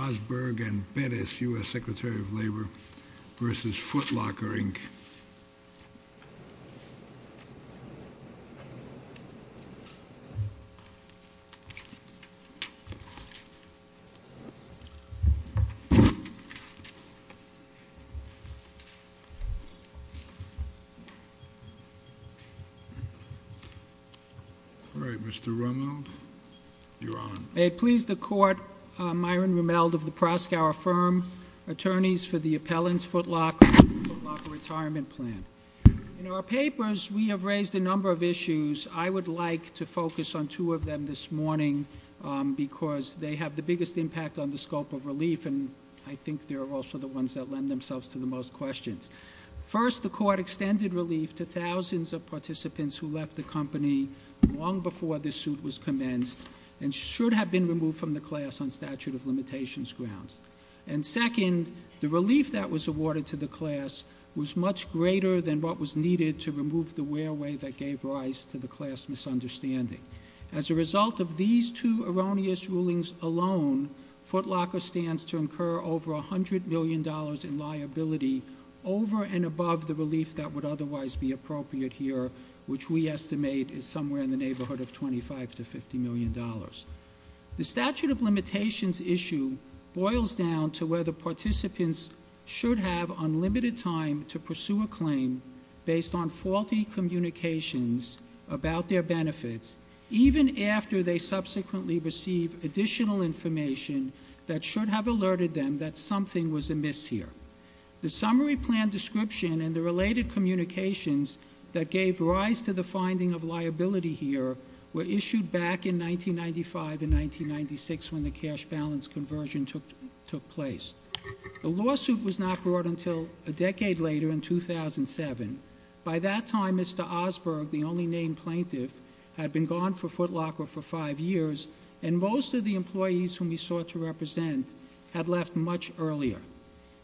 Osberg and Bettis, U.S. Secretary of Labor, v. Foot Locker, Inc. All right, Mr. Rummel, you're on. May it please the Court, Myron Rummel of the Proskauer Firm, Attorneys for the Appellant's Foot Locker Retirement Plan. In our papers, we have raised a number of issues. I would like to focus on two of them this morning because they have the biggest impact on the scope of relief and I think they're also the ones that lend themselves to the most questions. First, the Court extended relief to thousands of participants who left the company long before this suit was commenced and should have been removed from the class on statute of limitations grounds. And second, the relief that was awarded to the class was much greater than what was needed to remove the wear-away that gave rise to the class misunderstanding. As a result of these two erroneous rulings alone, Foot Locker stands to incur over $100 million in liability over and above the relief that would otherwise be appropriate here, which we estimate is somewhere in the neighborhood of $25 to $50 million. The statute of limitations issue boils down to whether participants should have unlimited time to pursue a claim based on faulty communications about their benefits, even after they subsequently receive additional information that should have alerted them that something was amiss here. The summary plan description and the related communications that gave rise to the finding of liability here were issued back in 1995 and 1996 when the cash balance conversion took place. The lawsuit was not brought until a decade later in 2007. By that time, Mr. Osberg, the only named plaintiff, had been gone for Foot Locker for 5 years, and most of the employees whom he sought to represent had left much earlier.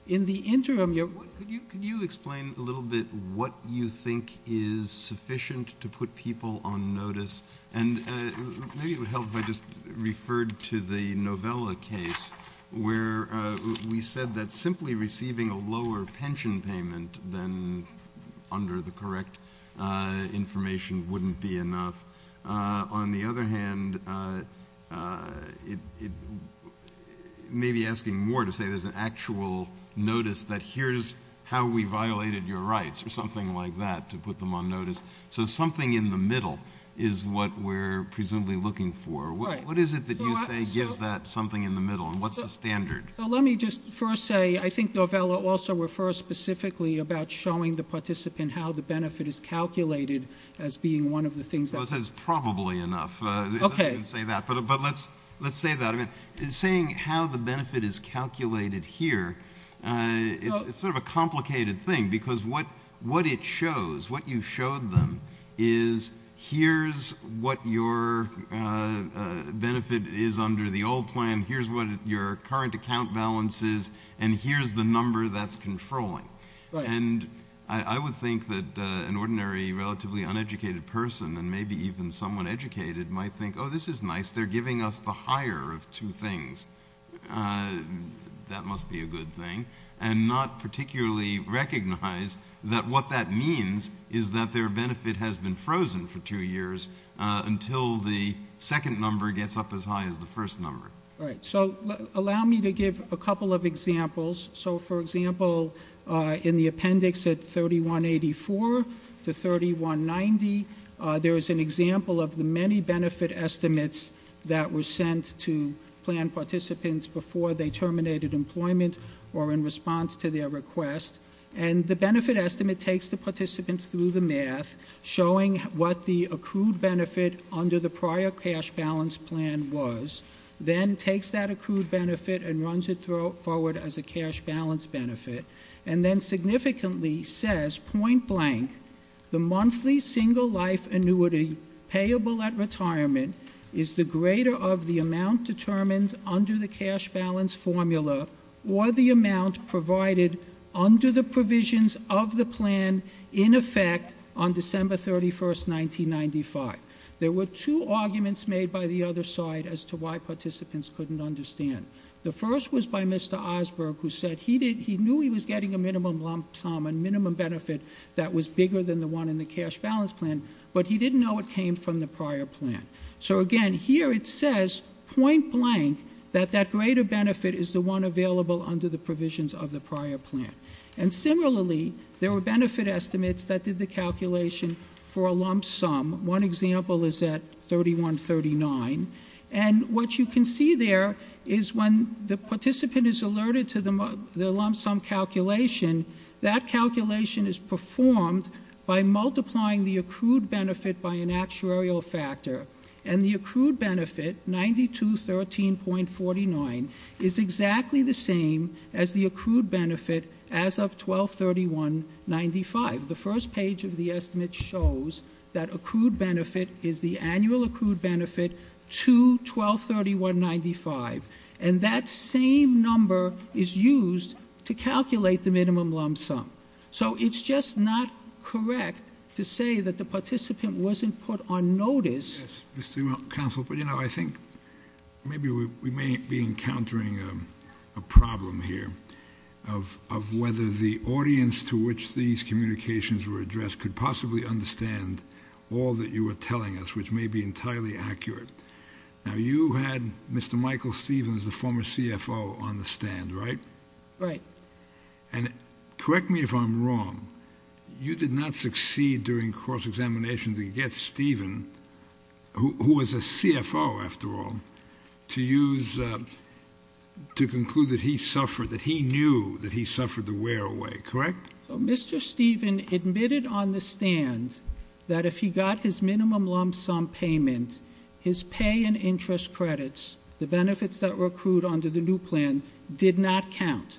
In the interim, you're... Could you explain a little bit what you think is sufficient to put people on notice? And maybe it would help if I just referred to the Novella case where we said that simply receiving a lower pension payment than under the correct information wouldn't be enough. On the other hand, it may be asking more to say there's an actual notice that here's how we violated your rights, or something like that, to put them on notice. So something in the middle is what we're presumably looking for. What is it that you say gives that something in the middle, and what's the standard? Let me just first say I think Novella also refers specifically about showing the participant how the benefit is calculated as being one of the things that... I would say it's probably enough. I didn't say that, but let's say that. Saying how the benefit is calculated here, it's sort of a complicated thing, because what it shows, what you showed them, is here's what your benefit is under the old plan, here's what your current account balance is, and here's the number that's controlling. And I would think that an ordinary, relatively uneducated person, and maybe even someone educated, might think, oh, this is nice, they're giving us the higher of two things. That must be a good thing. And not particularly recognize that what that means is that their benefit has been frozen for two years until the second number gets up as high as the first number. Right. So allow me to give a couple of examples. So, for example, in the appendix at 3184 to 3190, there is an example of the many benefit estimates that were sent to plan participants before they terminated employment or in response to their request. And the benefit estimate takes the participant through the math, showing what the accrued benefit under the prior cash balance plan was, then takes that accrued benefit and runs it forward as a cash balance benefit, and then significantly says, point blank, the monthly single life annuity payable at retirement is the greater of the amount determined under the cash balance formula or the amount provided under the provisions of the plan in effect on December 31, 1995. There were two arguments made by the other side as to why participants couldn't understand. The first was by Mr. Osberg, who said he knew he was getting a minimum lump sum, a minimum benefit that was bigger than the one in the cash balance plan, but he didn't know it came from the prior plan. So, again, here it says, point blank, that that greater benefit is the one available under the provisions of the prior plan. And, similarly, there were benefit estimates that did the calculation for a lump sum. One example is at 3139. And what you can see there is when the participant is alerted to the lump sum calculation, that calculation is performed by multiplying the accrued benefit by an actuarial factor. And the accrued benefit, 9213.49, is exactly the same as the accrued benefit as of 12-31-95. The first page of the estimate shows that accrued benefit is the annual accrued benefit to 12-31-95. And that same number is used to calculate the minimum lump sum. So it's just not correct to say that the participant wasn't put on notice. Yes, Mr. Counsel, but, you know, I think maybe we may be encountering a problem here of whether the audience to which these communications were addressed could possibly understand all that you were telling us, which may be entirely accurate. Now, you had Mr. Michael Stevens, the former CFO, on the stand, right? Right. And correct me if I'm wrong, you did not succeed during cross-examination to get Steven, who was a CFO, after all, to use, to conclude that he suffered, that he knew that he suffered the wear away, correct? Mr. Stevens admitted on the stand that if he got his minimum lump sum payment, his pay and interest credits, the benefits that were accrued under the new plan, did not count.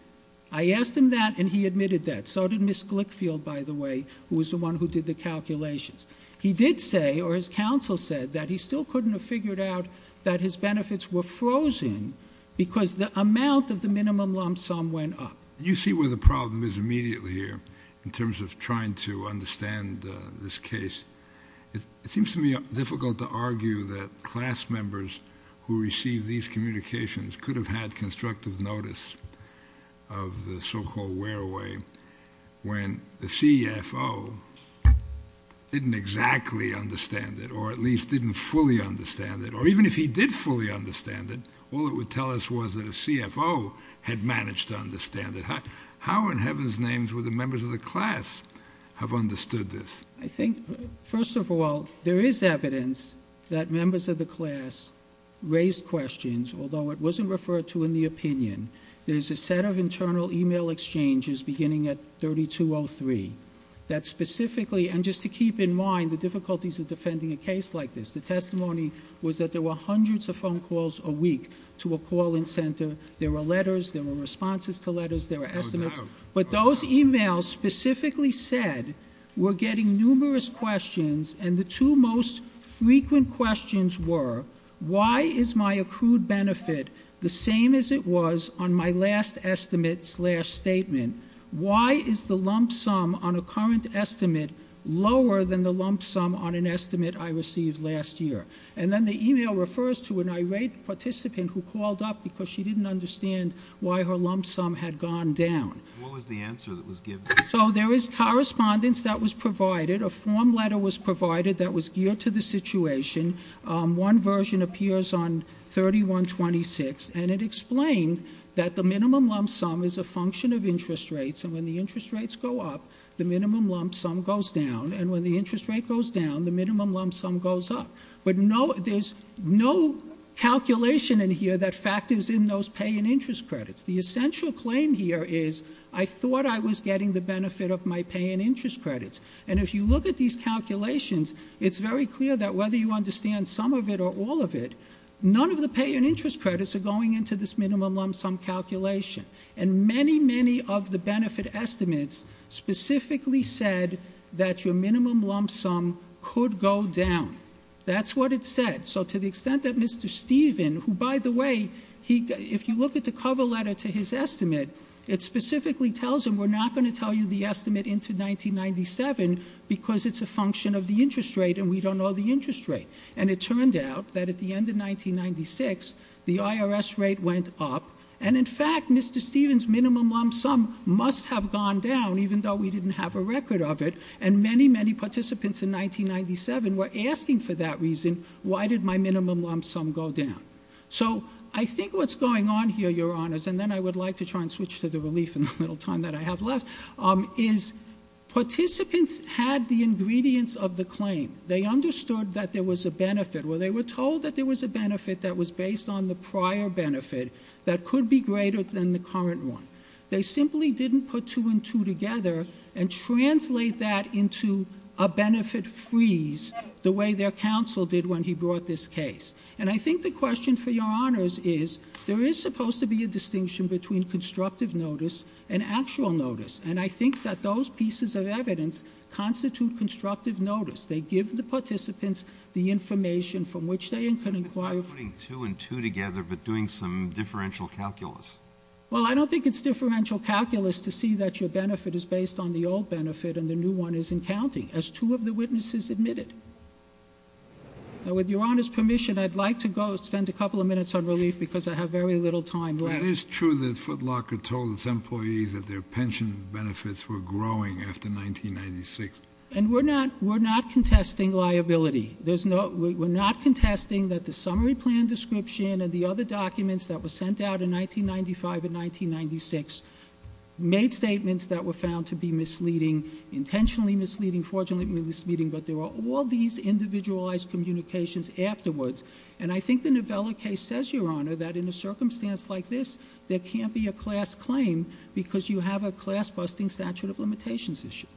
I asked him that, and he admitted that. So did Ms. Glickfield, by the way, who was the one who did the calculations. He did say, or his counsel said, that he still couldn't have figured out that his benefits were frozen because the amount of the minimum lump sum went up. You see where the problem is immediately here in terms of trying to understand this case. It seems to me difficult to argue that class members who receive these communications could have had constructive notice of the so-called wear away when the CFO didn't exactly understand it, or at least didn't fully understand it, or even if he did fully understand it, all it would tell us was that a CFO had managed to understand it. How in heaven's names would the members of the class have understood this? I think, first of all, there is evidence that members of the class raised questions, although it wasn't referred to in the opinion. There's a set of internal email exchanges beginning at 3203 that specifically, and just to keep in mind the difficulties of defending a case like this, the testimony was that there were hundreds of phone calls a week to a call-in center. There were letters, there were responses to letters, there were estimates. But those emails specifically said, we're getting numerous questions, and the two most frequent questions were, why is my accrued benefit the same as it was on my last estimate slash statement? Why is the lump sum on a current estimate lower than the lump sum on an estimate I received last year? And then the email refers to an irate participant who called up because she didn't understand why her lump sum had gone down. What was the answer that was given? So there was correspondence that was provided, a form letter was provided that was geared to the situation. One version appears on 3126, and it explained that the minimum lump sum is a function of interest rates, and when the interest rates go up, the minimum lump sum goes down, and when the interest rate goes down, the minimum lump sum goes up. But there's no calculation in here that factors in those pay and interest credits. The essential claim here is, I thought I was getting the benefit of my pay and interest credits. And if you look at these calculations, it's very clear that whether you understand some of it or all of it, none of the pay and interest credits are going into this minimum lump sum calculation. And many, many of the benefit estimates specifically said that your minimum lump sum could go down. That's what it said. So to the extent that Mr. Stephen, who by the way, if you look at the cover letter to his estimate, it specifically tells him, we're not going to tell you the estimate into 1997 because it's a function of the interest rate and we don't know the interest rate. And it turned out that at the end of 1996, the IRS rate went up, and in fact, Mr. Stephen's minimum lump sum must have gone down, even though we didn't have a record of it, and many, many participants in 1997 were asking for that reason, why did my minimum lump sum go down? So I think what's going on here, Your Honors, and then I would like to try and switch to the relief in the little time that I have left, is participants had the ingredients of the claim. They understood that there was a benefit. Well, they were told that there was a benefit that was based on the prior benefit that could be greater than the current one. They simply didn't put two and two together and translate that into a benefit freeze the way their counsel did when he brought this case. And I think the question for Your Honors is, there is supposed to be a distinction between constructive notice and actual notice, and I think that those pieces of evidence constitute constructive notice. They give the participants the information from which they can inquire... They're not just putting two and two together, but doing some differential calculus. Well, I don't think it's differential calculus to see that your benefit is based on the old benefit and the new one isn't counting, as two of the witnesses admitted. Now, with Your Honors' permission, I'd like to go spend a couple of minutes on relief because I have very little time left. But it is true that Footlocker told its employees that their pension benefits were growing after 1996. And we're not contesting liability. We're not contesting that the summary plan description and the other documents that were sent out in 1995 and 1996 made statements that were found to be misleading, intentionally misleading, fortunately misleading, but there were all these individualized communications afterwards. And I think the Novella case says, Your Honor, that in a circumstance like this, there can't be a class claim because you have a class-busting statute of limitations issue.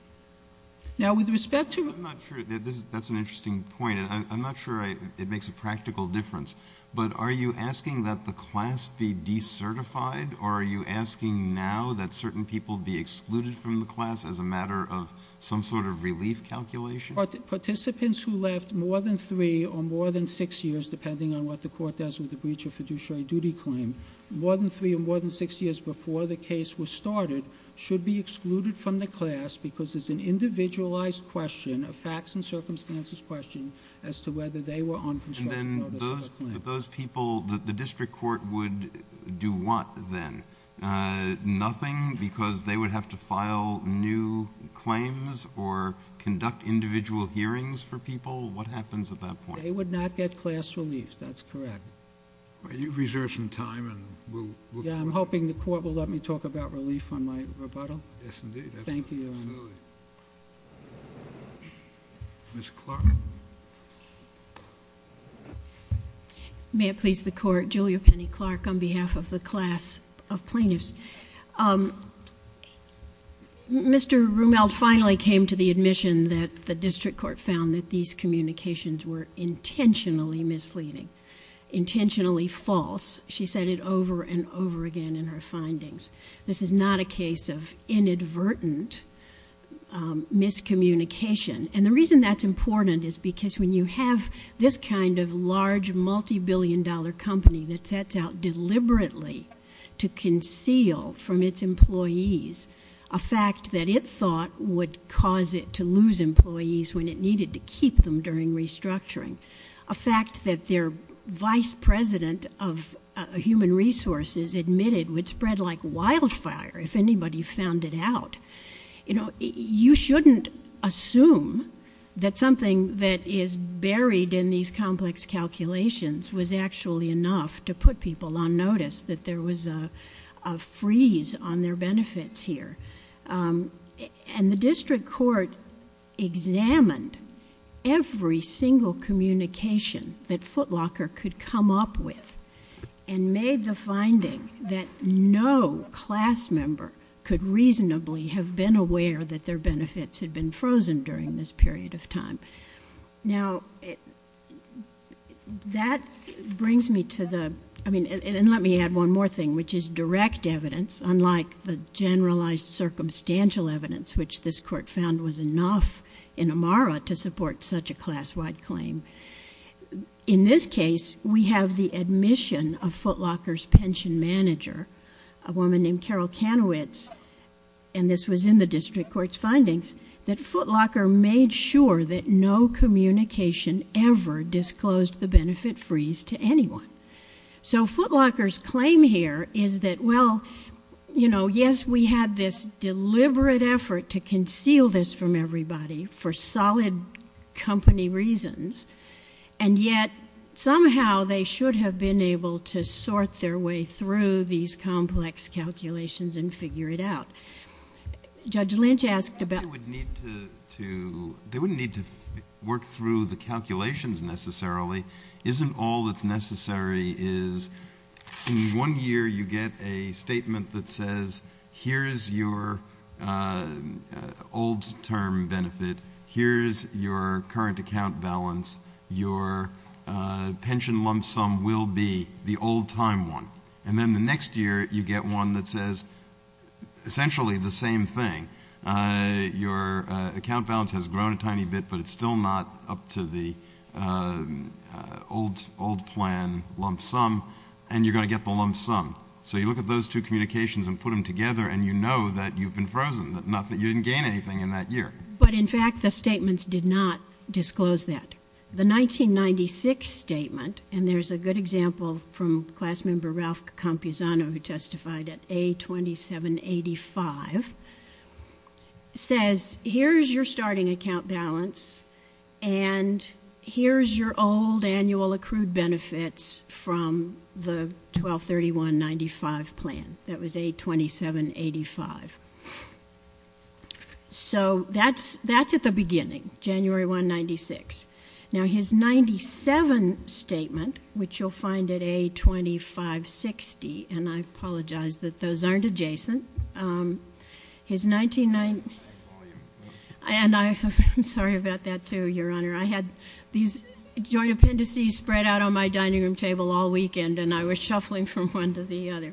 Now, with respect to... I'm not sure... That's an interesting point. I'm not sure it makes a practical difference. But are you asking that the class be decertified, or are you asking now that certain people be excluded from the class as a matter of some sort of relief calculation? Participants who left more than 3 or more than 6 years, depending on what the court does with the breach of fiduciary duty claim, more than 3 or more than 6 years before the case was started should be excluded from the class because it's an individualized question, a facts and circumstances question, as to whether they were on constructed notice of a claim. And then those people, the district court would do what then? Nothing? Because they would have to file new claims or conduct individual hearings for people? What happens at that point? They would not get class relief. That's correct. Well, you've reserved some time, and we'll... Yeah, I'm hoping the court will let me talk about relief on my rebuttal. Yes, indeed. Absolutely. Thank you, Your Honor. Ms. Clark. May it please the Court, I'm Julia Penny Clark on behalf of the class of plaintiffs. Mr. Rumeld finally came to the admission that the district court found that these communications were intentionally misleading, intentionally false. She said it over and over again in her findings. This is not a case of inadvertent miscommunication. And the reason that's important is because when you have this kind of large, multibillion-dollar company that sets out deliberately to conceal from its employees a fact that it thought would cause it to lose employees when it needed to keep them during restructuring, a fact that their vice president of human resources admitted would spread like wildfire if anybody found it out, you shouldn't assume that something that is buried in these complex calculations was actually enough to put people on notice that there was a freeze on their benefits here. And the district court examined every single communication that Footlocker could come up with and made the finding that no class member could reasonably have been aware that their benefits had been frozen during this period of time. Now, that brings me to the, I mean, and let me add one more thing, which is direct evidence, unlike the generalized circumstantial evidence which this court found was enough in Amara to support such a class-wide claim. In this case, we have the admission of Footlocker's pension manager, a woman named Carol Kanowitz, and this was in the district court's findings, that Footlocker made sure that no communication ever disclosed the benefit freeze to anyone. So Footlocker's claim here is that, well, you know, yes, we had this deliberate effort to conceal this from everybody for solid company reasons, and yet somehow they should have been able to sort their way through these complex calculations and figure it out. Judge Lynch asked about... They wouldn't need to work through the calculations necessarily. Isn't all that's necessary is in one year you get a statement that says, here's your old-term benefit, here's your current account balance, your pension lump sum will be the old-time one, and then the next year you get one that says essentially the same thing. Your account balance has grown a tiny bit, but it's still not up to the old plan lump sum, and you're going to get the lump sum. So you look at those two communications and put them together, and you know that you've been frozen, not that you didn't gain anything in that year. But, in fact, the statements did not disclose that. The 1996 statement, and there's a good example from class member Ralph Campuzano who testified at A2785, says here's your starting account balance and here's your old annual accrued benefits from the 12-31-95 plan. That was A2785. So that's at the beginning, January 1, 1996. Now his 97 statement, which you'll find at A2560, and I apologize that those aren't adjacent. I'm sorry about that, too, Your Honor. I had these joint appendices spread out on my dining room table all weekend, and I was shuffling from one to the other.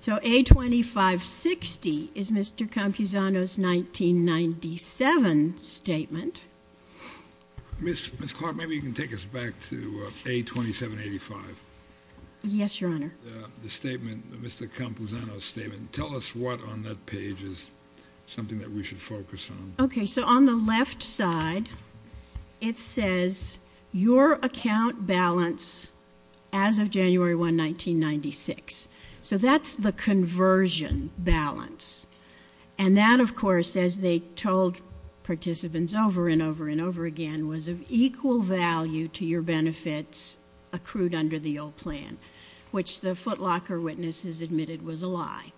So A2560 is Mr. Campuzano's 1997 statement. Ms. Clark, maybe you can take us back to A2785. Yes, Your Honor. The statement, Mr. Campuzano's statement. Tell us what on that page is something that we should focus on. Okay, so on the left side, it says your account balance as of January 1, 1996. So that's the conversion balance. And that, of course, as they told participants over and over and over again, was of equal value to your benefits accrued under the old plan, which the footlocker witnesses admitted was a lie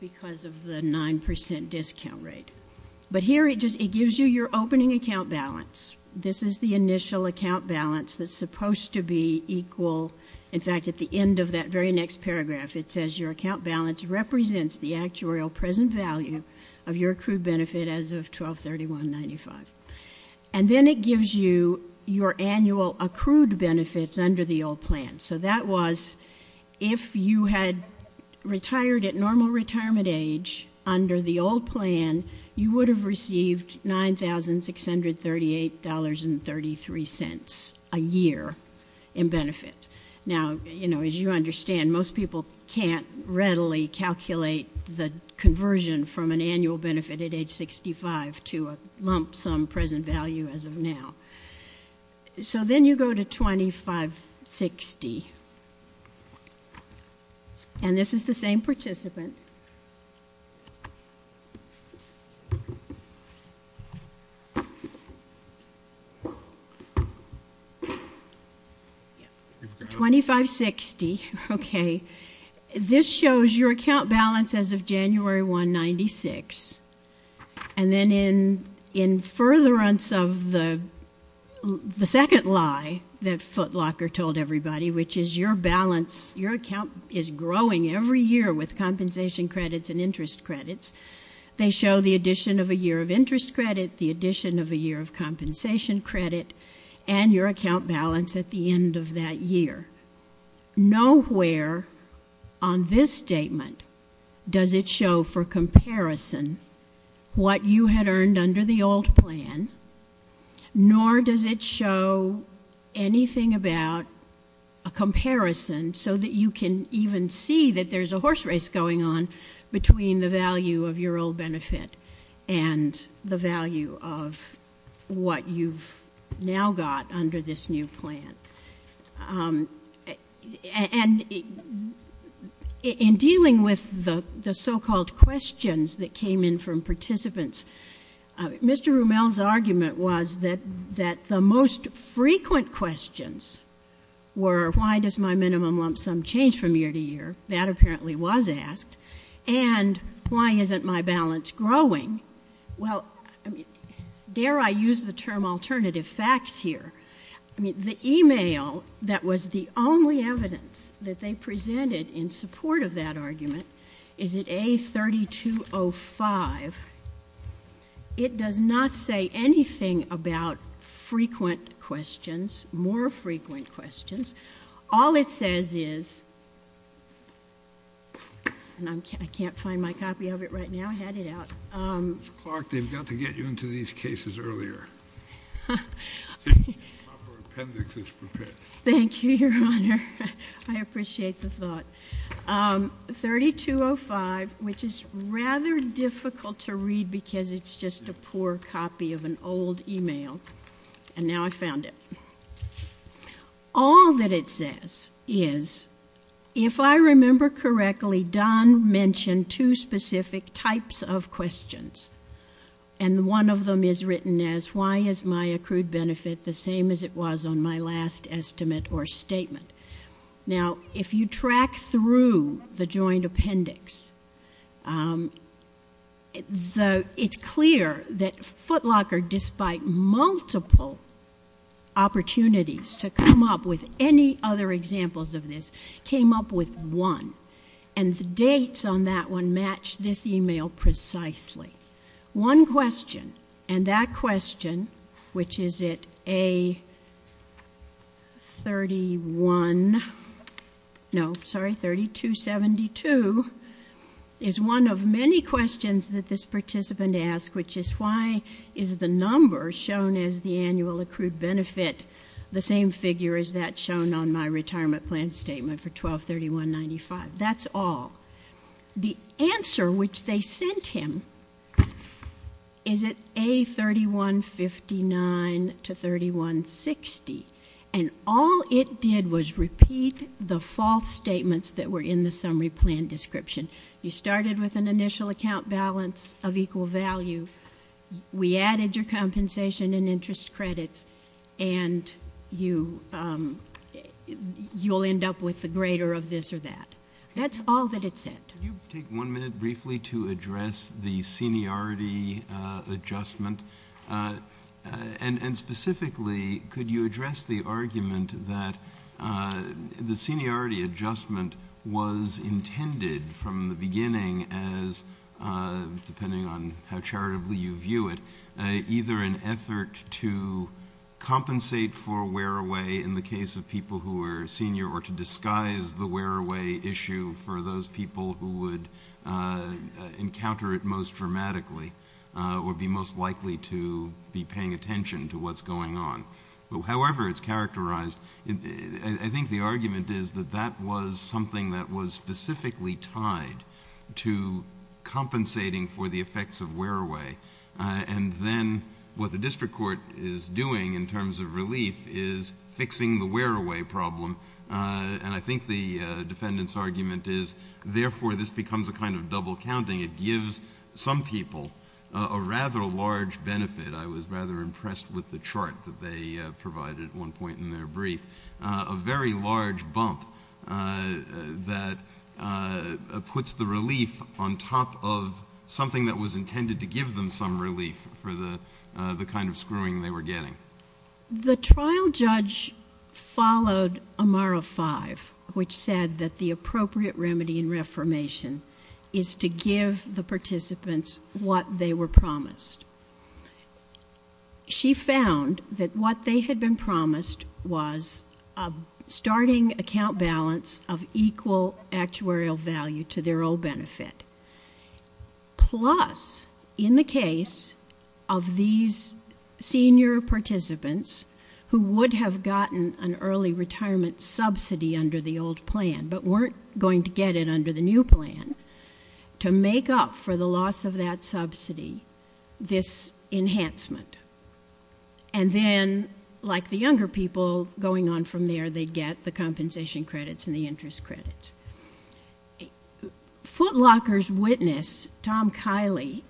because of the 9% discount rate. But here it gives you your opening account balance. This is the initial account balance that's supposed to be equal. In fact, at the end of that very next paragraph, it says your account balance represents the actuarial present value of your accrued benefit as of 12-31-95. And then it gives you your annual accrued benefits under the old plan. So that was if you had retired at normal retirement age under the old plan, you would have received $9,638.33 a year in benefit. Now, you know, as you understand, most people can't readily calculate the conversion from an annual benefit at age 65 to a lump sum present value as of now. So then you go to 2560. And this is the same participant. 2560, okay. This shows your account balance as of January 1, 1996. And then in furtherance of the second lie that footlocker told everybody, which is your account is growing every year with compensation credits and interest credits, they show the addition of a year of interest credit, the addition of a year of compensation credit, and your account balance at the end of that year. Nowhere on this statement does it show for comparison what you had earned under the old plan, nor does it show anything about a comparison so that you can even see that there's a horse race going on And in dealing with the so-called questions that came in from participants, Mr. Rumel's argument was that the most frequent questions were, why does my minimum lump sum change from year to year? That apparently was asked. And why isn't my balance growing? Well, dare I use the term alternative facts here? I mean, the email that was the only evidence that they presented in support of that argument is at A3205. It does not say anything about frequent questions, more frequent questions. All it says is, and I can't find my copy of it right now. I had it out. Mr. Clark, they've got to get you into these cases earlier. My appendix is prepared. Thank you, Your Honor. I appreciate the thought. 3205, which is rather difficult to read because it's just a poor copy of an old email. And now I've found it. All that it says is, if I remember correctly, Don mentioned two specific types of questions. And one of them is written as, why is my accrued benefit the same as it was on my last estimate or statement? Now, if you track through the joint appendix, it's clear that Footlocker, despite multiple opportunities to come up with any other examples of this, came up with one. And the dates on that one match this email precisely. One question, and that question, which is at A3172, is one of many questions that this participant asked, which is, why is the number shown as the annual accrued benefit the same figure as that shown on my retirement plan statement for 1231.95? That's all. The answer, which they sent him, is at A3159 to 3160. And all it did was repeat the false statements that were in the summary plan description. You started with an initial account balance of equal value. We added your compensation and interest credits, and you'll end up with the greater of this or that. That's all that it said. Can you take one minute briefly to address the seniority adjustment? And specifically, could you address the argument that the seniority adjustment was intended from the beginning as, depending on how charitably you view it, either an effort to compensate for wear-away in the case of people who were senior or to disguise the wear-away issue for those people who would encounter it most dramatically or be most likely to be paying attention to what's going on. However it's characterized, I think the argument is that that was something that was specifically tied to compensating for the effects of wear-away. And then what the district court is doing in terms of relief is fixing the wear-away problem. And I think the defendant's argument is, therefore, this becomes a kind of double counting. It gives some people a rather large benefit. I was rather impressed with the chart that they provided at one point in their brief. A very large bump that puts the relief on top of something that was intended to give them some relief for the kind of screwing they were getting. The trial judge followed Amara 5, which said that the appropriate remedy in reformation is to give the participants what they were promised. She found that what they had been promised was a starting account balance of equal actuarial value to their old benefit. Plus, in the case of these senior participants who would have gotten an early retirement subsidy under the old plan but weren't going to get it under the new plan, to make up for the loss of that subsidy, this enhancement. And then, like the younger people going on from there, they'd get the compensation credits and the interest credits. Footlocker's witness, Tom Kiley,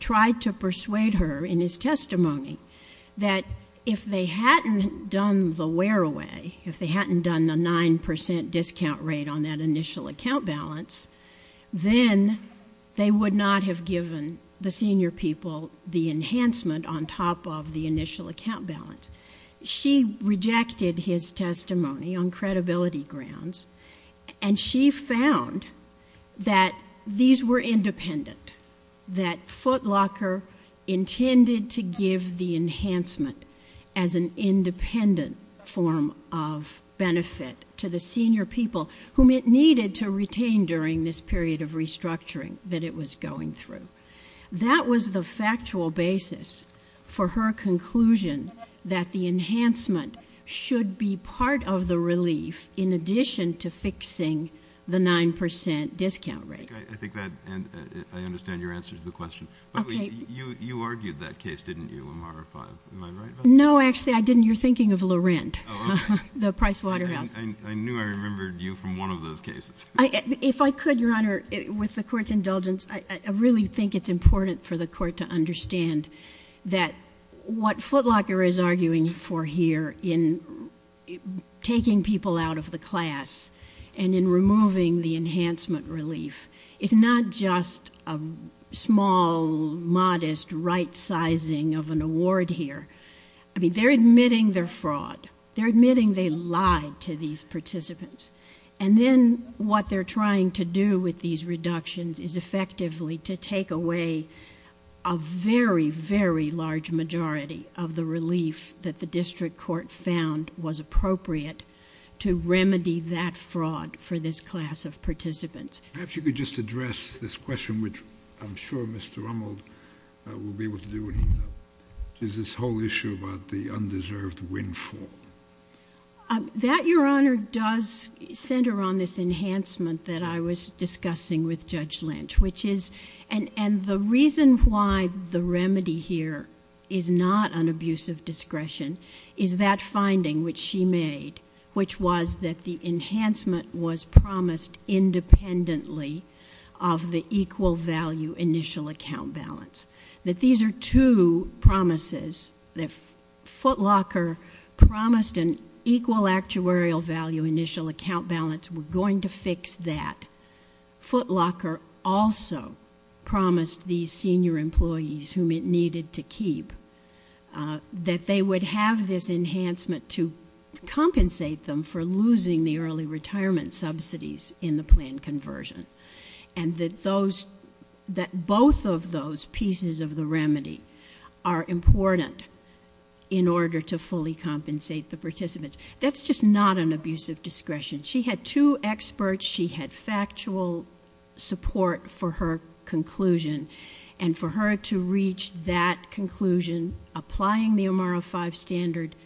tried to persuade her in his testimony that if they hadn't done the wear-away, if they hadn't done the 9% discount rate on that initial account balance, then they would not have given the senior people the enhancement on top of the initial account balance. She rejected his testimony on credibility grounds. And she found that these were independent, that Footlocker intended to give the enhancement as an independent form of benefit to the senior people whom it needed to retain during this period of restructuring that it was going through. That was the factual basis for her conclusion that the enhancement should be part of the relief in addition to fixing the 9% discount rate. I think that I understand your answer to the question. But you argued that case, didn't you, Amara? Am I right about that? No, actually, I didn't. You're thinking of Laurent, the Price Waterhouse. I knew I remembered you from one of those cases. If I could, Your Honor, with the Court's indulgence, I really think it's important for the Court to understand that what Footlocker is arguing for here in taking people out of the class and in removing the enhancement relief is not just a small, modest right-sizing of an award here. They're admitting they're fraud. They're admitting they lied to these participants. And then what they're trying to do with these reductions is effectively to take away a very, very large majority of the relief that the district court found was appropriate to remedy that fraud for this class of participants. Perhaps you could just address this question, which I'm sure Mr. Rummel will be able to do when he's done, which is this whole issue about the undeserved win-fall. That, Your Honor, does center on this enhancement that I was discussing with Judge Lynch, and the reason why the remedy here is not an abuse of discretion is that finding which she made, which was that the enhancement was promised independently of the equal value initial account balance, that these are two promises that Footlocker promised an equal actuarial value initial account balance. We're going to fix that. Footlocker also promised these senior employees, whom it needed to keep, that they would have this enhancement to compensate them for losing the early retirement subsidies in the planned conversion, and that both of those pieces of the remedy are important in order to fully compensate the participants. That's just not an abuse of discretion. She had two experts. She had factual support for her conclusion, and for her to reach that conclusion, applying the OMARA V standard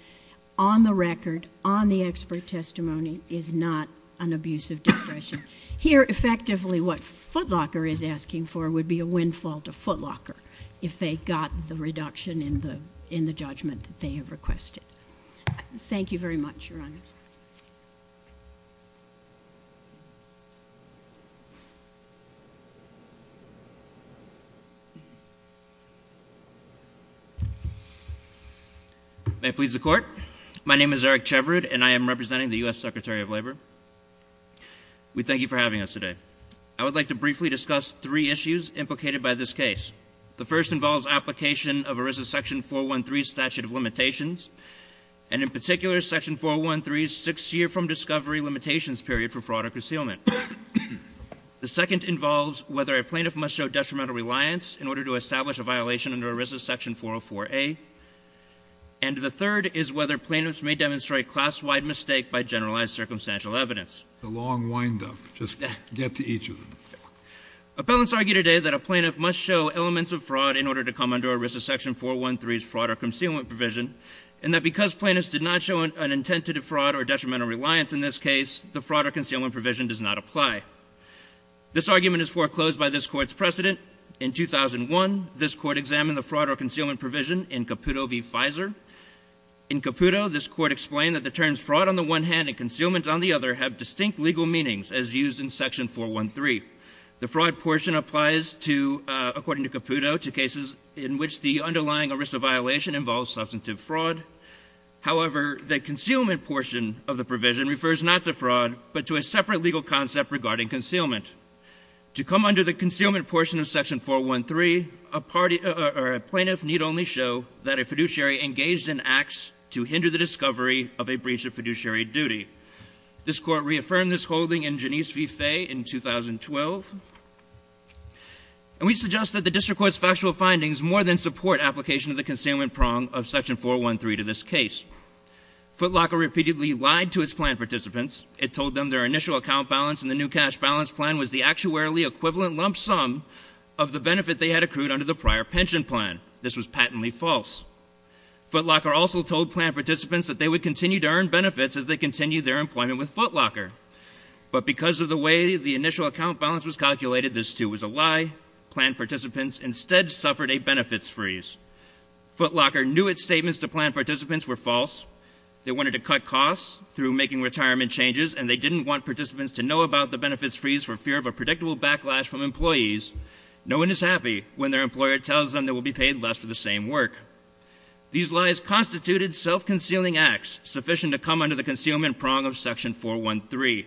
on the record, on the expert testimony, is not an abuse of discretion. Here, effectively, what Footlocker is asking for would be a win-fall to Footlocker if they got the reduction in the judgment that they have requested. Thank you very much, Your Honor. May it please the Court. My name is Eric Cheverud, and I am representing the U.S. Secretary of Labor. We thank you for having us today. I would like to briefly discuss three issues implicated by this case. The first involves application of ERISA Section 413's statute of limitations, and in particular, Section 413's six-year from discovery limitations period for fraud or concealment. The second involves whether a plaintiff must show detrimental reliance in order to establish a violation under ERISA Section 404A. And the third is whether plaintiffs may demonstrate class-wide mistake by generalized circumstantial evidence. It's a long wind-up. Just get to each of them. Appellants argue today that a plaintiff must show elements of fraud in order to come under ERISA Section 413's fraud or concealment provision, and that because plaintiffs did not show an intent to defraud or detrimental reliance in this case, the fraud or concealment provision does not apply. This argument is foreclosed by this Court's precedent. In 2001, this Court examined the fraud or concealment provision in Caputo v. Fizer. In Caputo, this Court explained that the terms fraud on the one hand and concealment on the other have distinct legal meanings as used in Section 413. The fraud portion applies to, according to Caputo, to cases in which the underlying ERISA violation involves substantive fraud. However, the concealment portion of the provision refers not to fraud, but to a separate legal concept regarding concealment. To come under the concealment portion of Section 413, a plaintiff need only show that a fiduciary engaged in acts to hinder the discovery of a breach of fiduciary duty. This Court reaffirmed this holding in Genise v. Fay in 2012. And we suggest that the District Court's factual findings more than support application of the concealment prong of Section 413 to this case. Footlocker repeatedly lied to its plaintiff participants. It told them their initial account balance in the new cash balance plan was the actuarially equivalent lump sum of the benefit they had accrued under the prior pension plan. This was patently false. Footlocker also told plaintiff participants that they would continue to earn benefits as they continued their employment with Footlocker. But because of the way the initial account balance was calculated, this too was a lie. Plaintiff participants instead suffered a benefits freeze. Footlocker knew its statements to plaintiff participants were false. They wanted to cut costs through making retirement changes, and they didn't want participants to know about the benefits freeze for fear of a predictable backlash from employees. No one is happy when their employer tells them they will be paid less for the same work. These lies constituted self-concealing acts sufficient to come under the concealment prong of Section 413.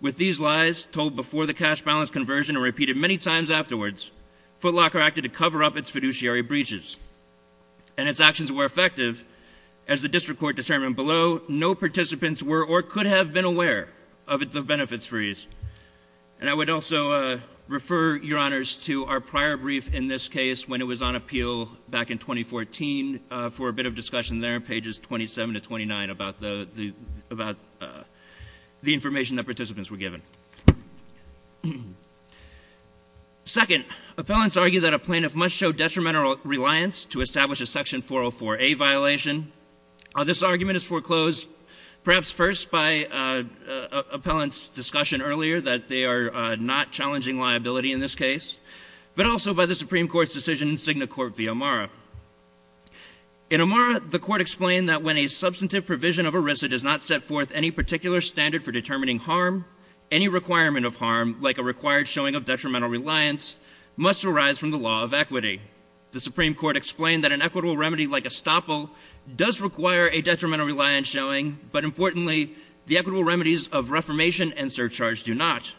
With these lies told before the cash balance conversion and repeated many times afterwards, Footlocker acted to cover up its fiduciary breaches. And its actions were effective. As the District Court determined below, no participants were or could have been aware of the benefits freeze. And I would also refer, Your Honors, to our prior brief in this case when it was on appeal back in 2014 for a bit of discussion there, pages 27 to 29, about the information that participants were given. Second, appellants argue that a plaintiff must show detrimental reliance to establish a Section 404a violation. This argument is foreclosed perhaps first by appellants' discussion earlier that they are not challenging liability in this case, but also by the Supreme Court's decision in Signet Court v. O'Mara. In O'Mara, the Court explained that when a substantive provision of ERISA does not set forth any particular standard for determining harm, any requirement of harm, like a required showing of detrimental reliance, must arise from the law of equity. The Supreme Court explained that an equitable remedy like estoppel does require a detrimental reliance showing, but importantly, the equitable remedies of reformation and surcharge do not.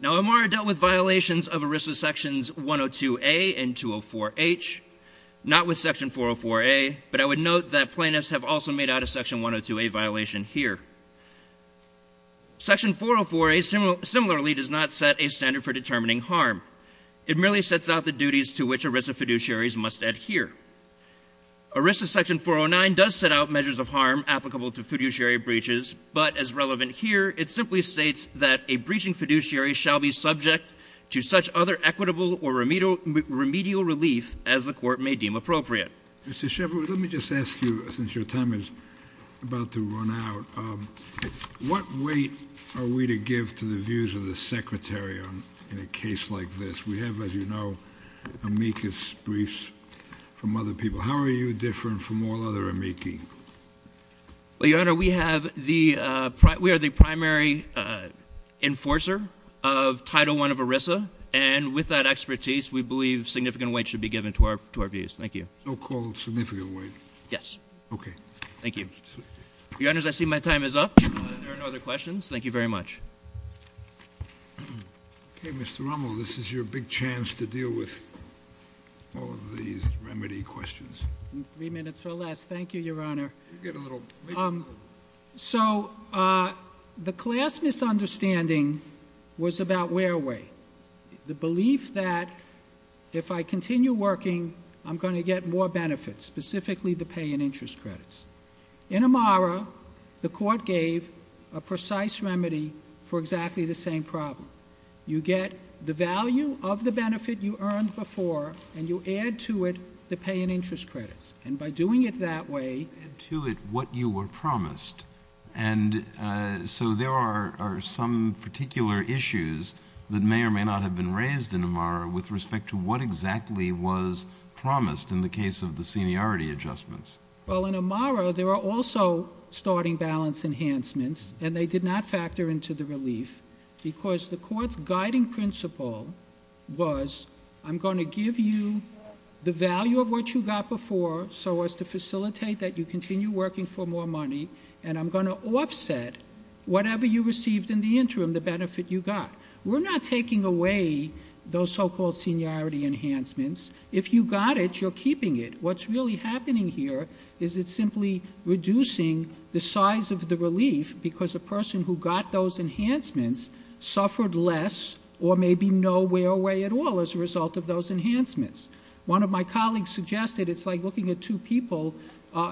Now, O'Mara dealt with violations of ERISA Sections 102a and 204h, not with Section 404a, but I would note that plaintiffs have also made out a Section 102a violation here. Section 404a similarly does not set a standard for determining harm. It merely sets out the duties to which ERISA fiduciaries must adhere. ERISA Section 409 does set out measures of harm applicable to fiduciary breaches, but as relevant here, it simply states that a breaching fiduciary shall be subject to such other equitable or remedial relief as the Court may deem appropriate. Mr. Sheffield, let me just ask you, since your time is about to run out, what weight are we to give to the views of the Secretary in a case like this? We have, as you know, amicus briefs from other people. How are you different from all other amici? Well, Your Honor, we are the primary enforcer of Title I of ERISA, and with that expertise, we believe significant weight should be given to our views. Thank you. So-called significant weight? Yes. Okay. Thank you. Your Honors, I see my time is up. There are no other questions. Thank you very much. Okay, Mr. Rummel, this is your big chance to deal with all of these remedy questions. Three minutes or less. Thank you, Your Honor. So, the class misunderstanding was about wear-away, the belief that if I continue working, I'm going to get more benefits, specifically the pay and interest credits. In Amara, the Court gave a precise remedy for exactly the same problem. You get the value of the benefit you earned before, and you add to it the pay and interest credits. And by doing it that way- Add to it what you were promised. And so there are some particular issues that may or may not have been raised in Amara with respect to what exactly was promised in the case of the seniority adjustments. Well, in Amara, there are also starting balance enhancements, and they did not factor into the relief, because the Court's guiding principle was, I'm going to give you the value of what you got before so as to facilitate that you continue working for more money, and I'm going to offset whatever you received in the interim, the benefit you got. We're not taking away those so-called seniority enhancements. If you got it, you're keeping it. What's really happening here is it's simply reducing the size of the relief because the person who got those enhancements suffered less or maybe no wear away at all as a result of those enhancements. One of my colleagues suggested it's like looking at two people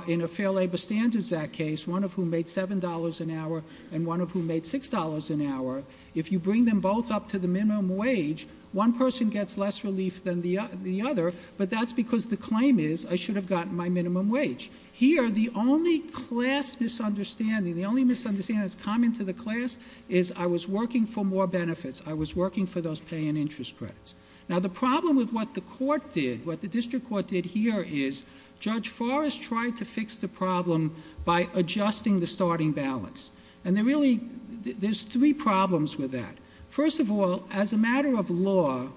in a Fair Labor Standards Act case, one of whom made $7 an hour and one of whom made $6 an hour. If you bring them both up to the minimum wage, one person gets less relief than the other, but that's because the claim is I should have gotten my minimum wage. Here, the only class misunderstanding, the only misunderstanding that's common to the class, is I was working for more benefits. I was working for those pay and interest credits. Now, the problem with what the District Court did here is Judge Forrest tried to fix the problem by adjusting the starting balance, and there's three problems with that. First of all, as a matter of law,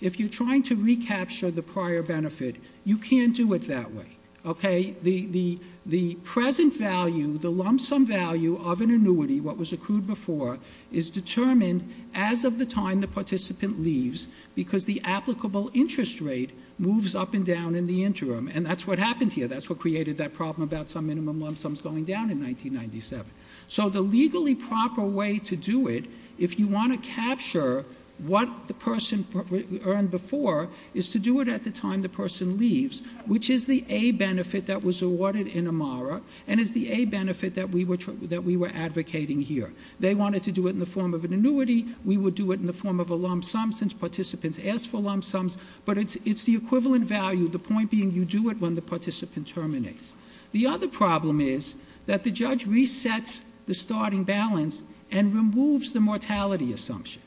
if you're trying to recapture the prior benefit, you can't do it that way. The present value, the lump sum value of an annuity, what was accrued before, is determined as of the time the participant leaves because the applicable interest rate moves up and down in the interim, and that's what happened here. That's what created that problem about some minimum lump sums going down in 1997. The legally proper way to do it, if you want to capture what the person earned before, is to do it at the time the person leaves, which is the A benefit that was awarded in Amara and is the A benefit that we were advocating here. They wanted to do it in the form of an annuity. We would do it in the form of a lump sum since participants asked for lump sums, but it's the equivalent value, the point being you do it when the participant terminates. The other problem is that the judge resets the starting balance and removes the mortality assumption.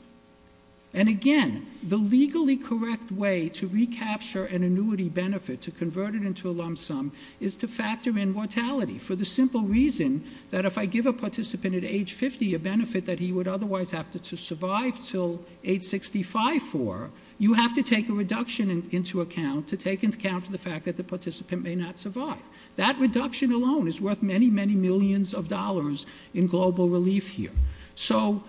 Again, the legally correct way to recapture an annuity benefit, to convert it into a lump sum, is to factor in mortality for the simple reason that if I give a participant at age 50 a benefit that he would otherwise have to survive until age 65 for, you have to take a reduction into account to take into account the fact that the participant may not survive. That reduction alone is worth many, many millions of dollars in global relief here. So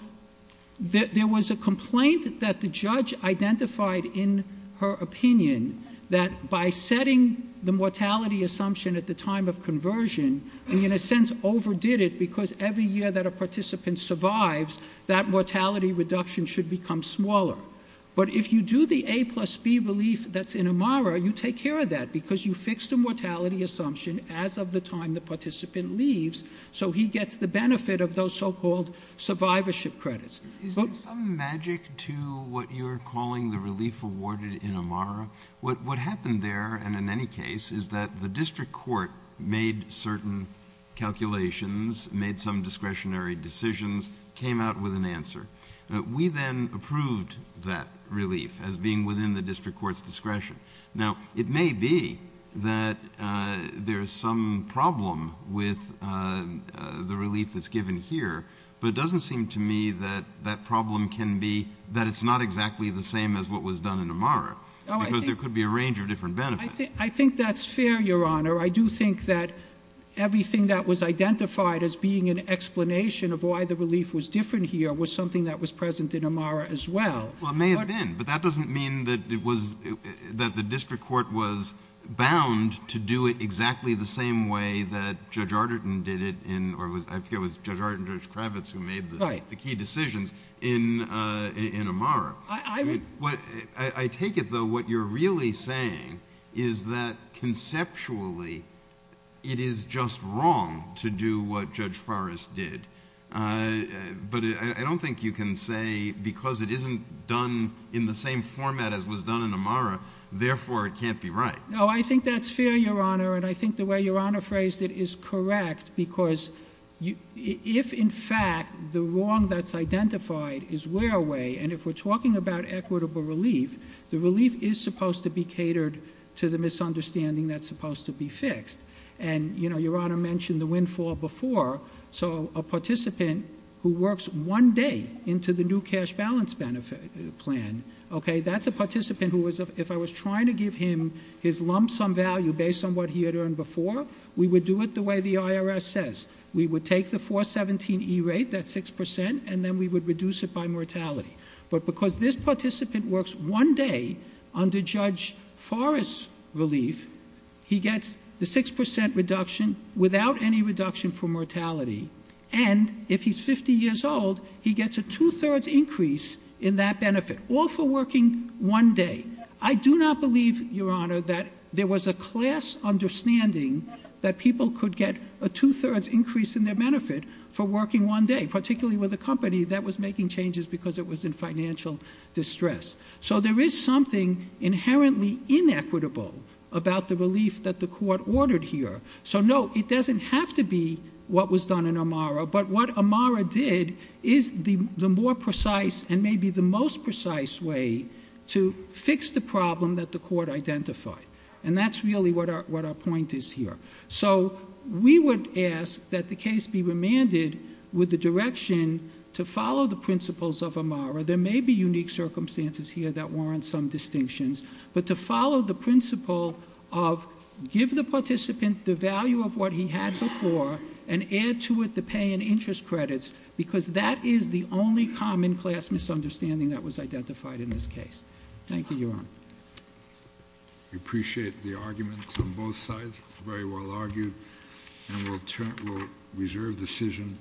there was a complaint that the judge identified in her opinion that by setting the mortality assumption at the time of conversion, he in a sense overdid it because every year that a participant survives, that mortality reduction should become smaller. But if you do the A plus B relief that's in AMARA, you take care of that because you fix the mortality assumption as of the time the participant leaves so he gets the benefit of those so-called survivorship credits. Is there some magic to what you're calling the relief awarded in AMARA? What happened there and in any case is that the district court made certain calculations, made some discretionary decisions, came out with an answer. We then approved that relief as being within the district court's discretion. Now, it may be that there's some problem with the relief that's given here, but it doesn't seem to me that that problem can be that it's not exactly the same as what was done in AMARA because there could be a range of different benefits. I think that's fair, Your Honor. I do think that everything that was identified as being an explanation of why the relief was different here was something that was present in AMARA as well. Well, it may have been, but that doesn't mean that the district court was bound to do it exactly the same way that Judge Arderton did it or I forget it was Judge Arderton and Judge Kravitz who made the key decisions in AMARA. I take it, though, what you're really saying is that conceptually it is just wrong to do what Judge Forrest did, but I don't think you can say because it isn't done in the same format as was done in AMARA, therefore it can't be right. No, I think that's fair, Your Honor, and I think the way Your Honor phrased it is correct because if, in fact, the wrong that's identified is wear away, and if we're talking about equitable relief, the relief is supposed to be catered to the misunderstanding that's supposed to be fixed. And Your Honor mentioned the windfall before, so a participant who works one day into the new cash balance benefit plan, that's a participant who if I was trying to give him his lump sum value based on what he had earned before, we would do it the way the IRS says. We would take the 417E rate, that's 6%, and then we would reduce it by mortality. But because this participant works one day under Judge Forrest's relief, he gets the 6% reduction without any reduction for mortality, and if he's 50 years old, he gets a two-thirds increase in that benefit, all for working one day. I do not believe, Your Honor, that there was a class understanding that people could get a two-thirds increase in their benefit for working one day, particularly with a company that was making changes because it was in financial distress. So there is something inherently inequitable about the relief that the court ordered here. So no, it doesn't have to be what was done in Amara, but what Amara did is the more precise and maybe the most precise way to fix the problem that the court identified, and that's really what our point is here. So we would ask that the case be remanded with the direction to follow the principles of Amara. There may be unique circumstances here that warrant some distinctions, but to follow the principle of give the participant the value of what he had before and add to it the pay and interest credits, because that is the only common class misunderstanding that was identified in this case. Thank you, Your Honor. We appreciate the arguments on both sides. Very well argued. And we'll reserve the decision.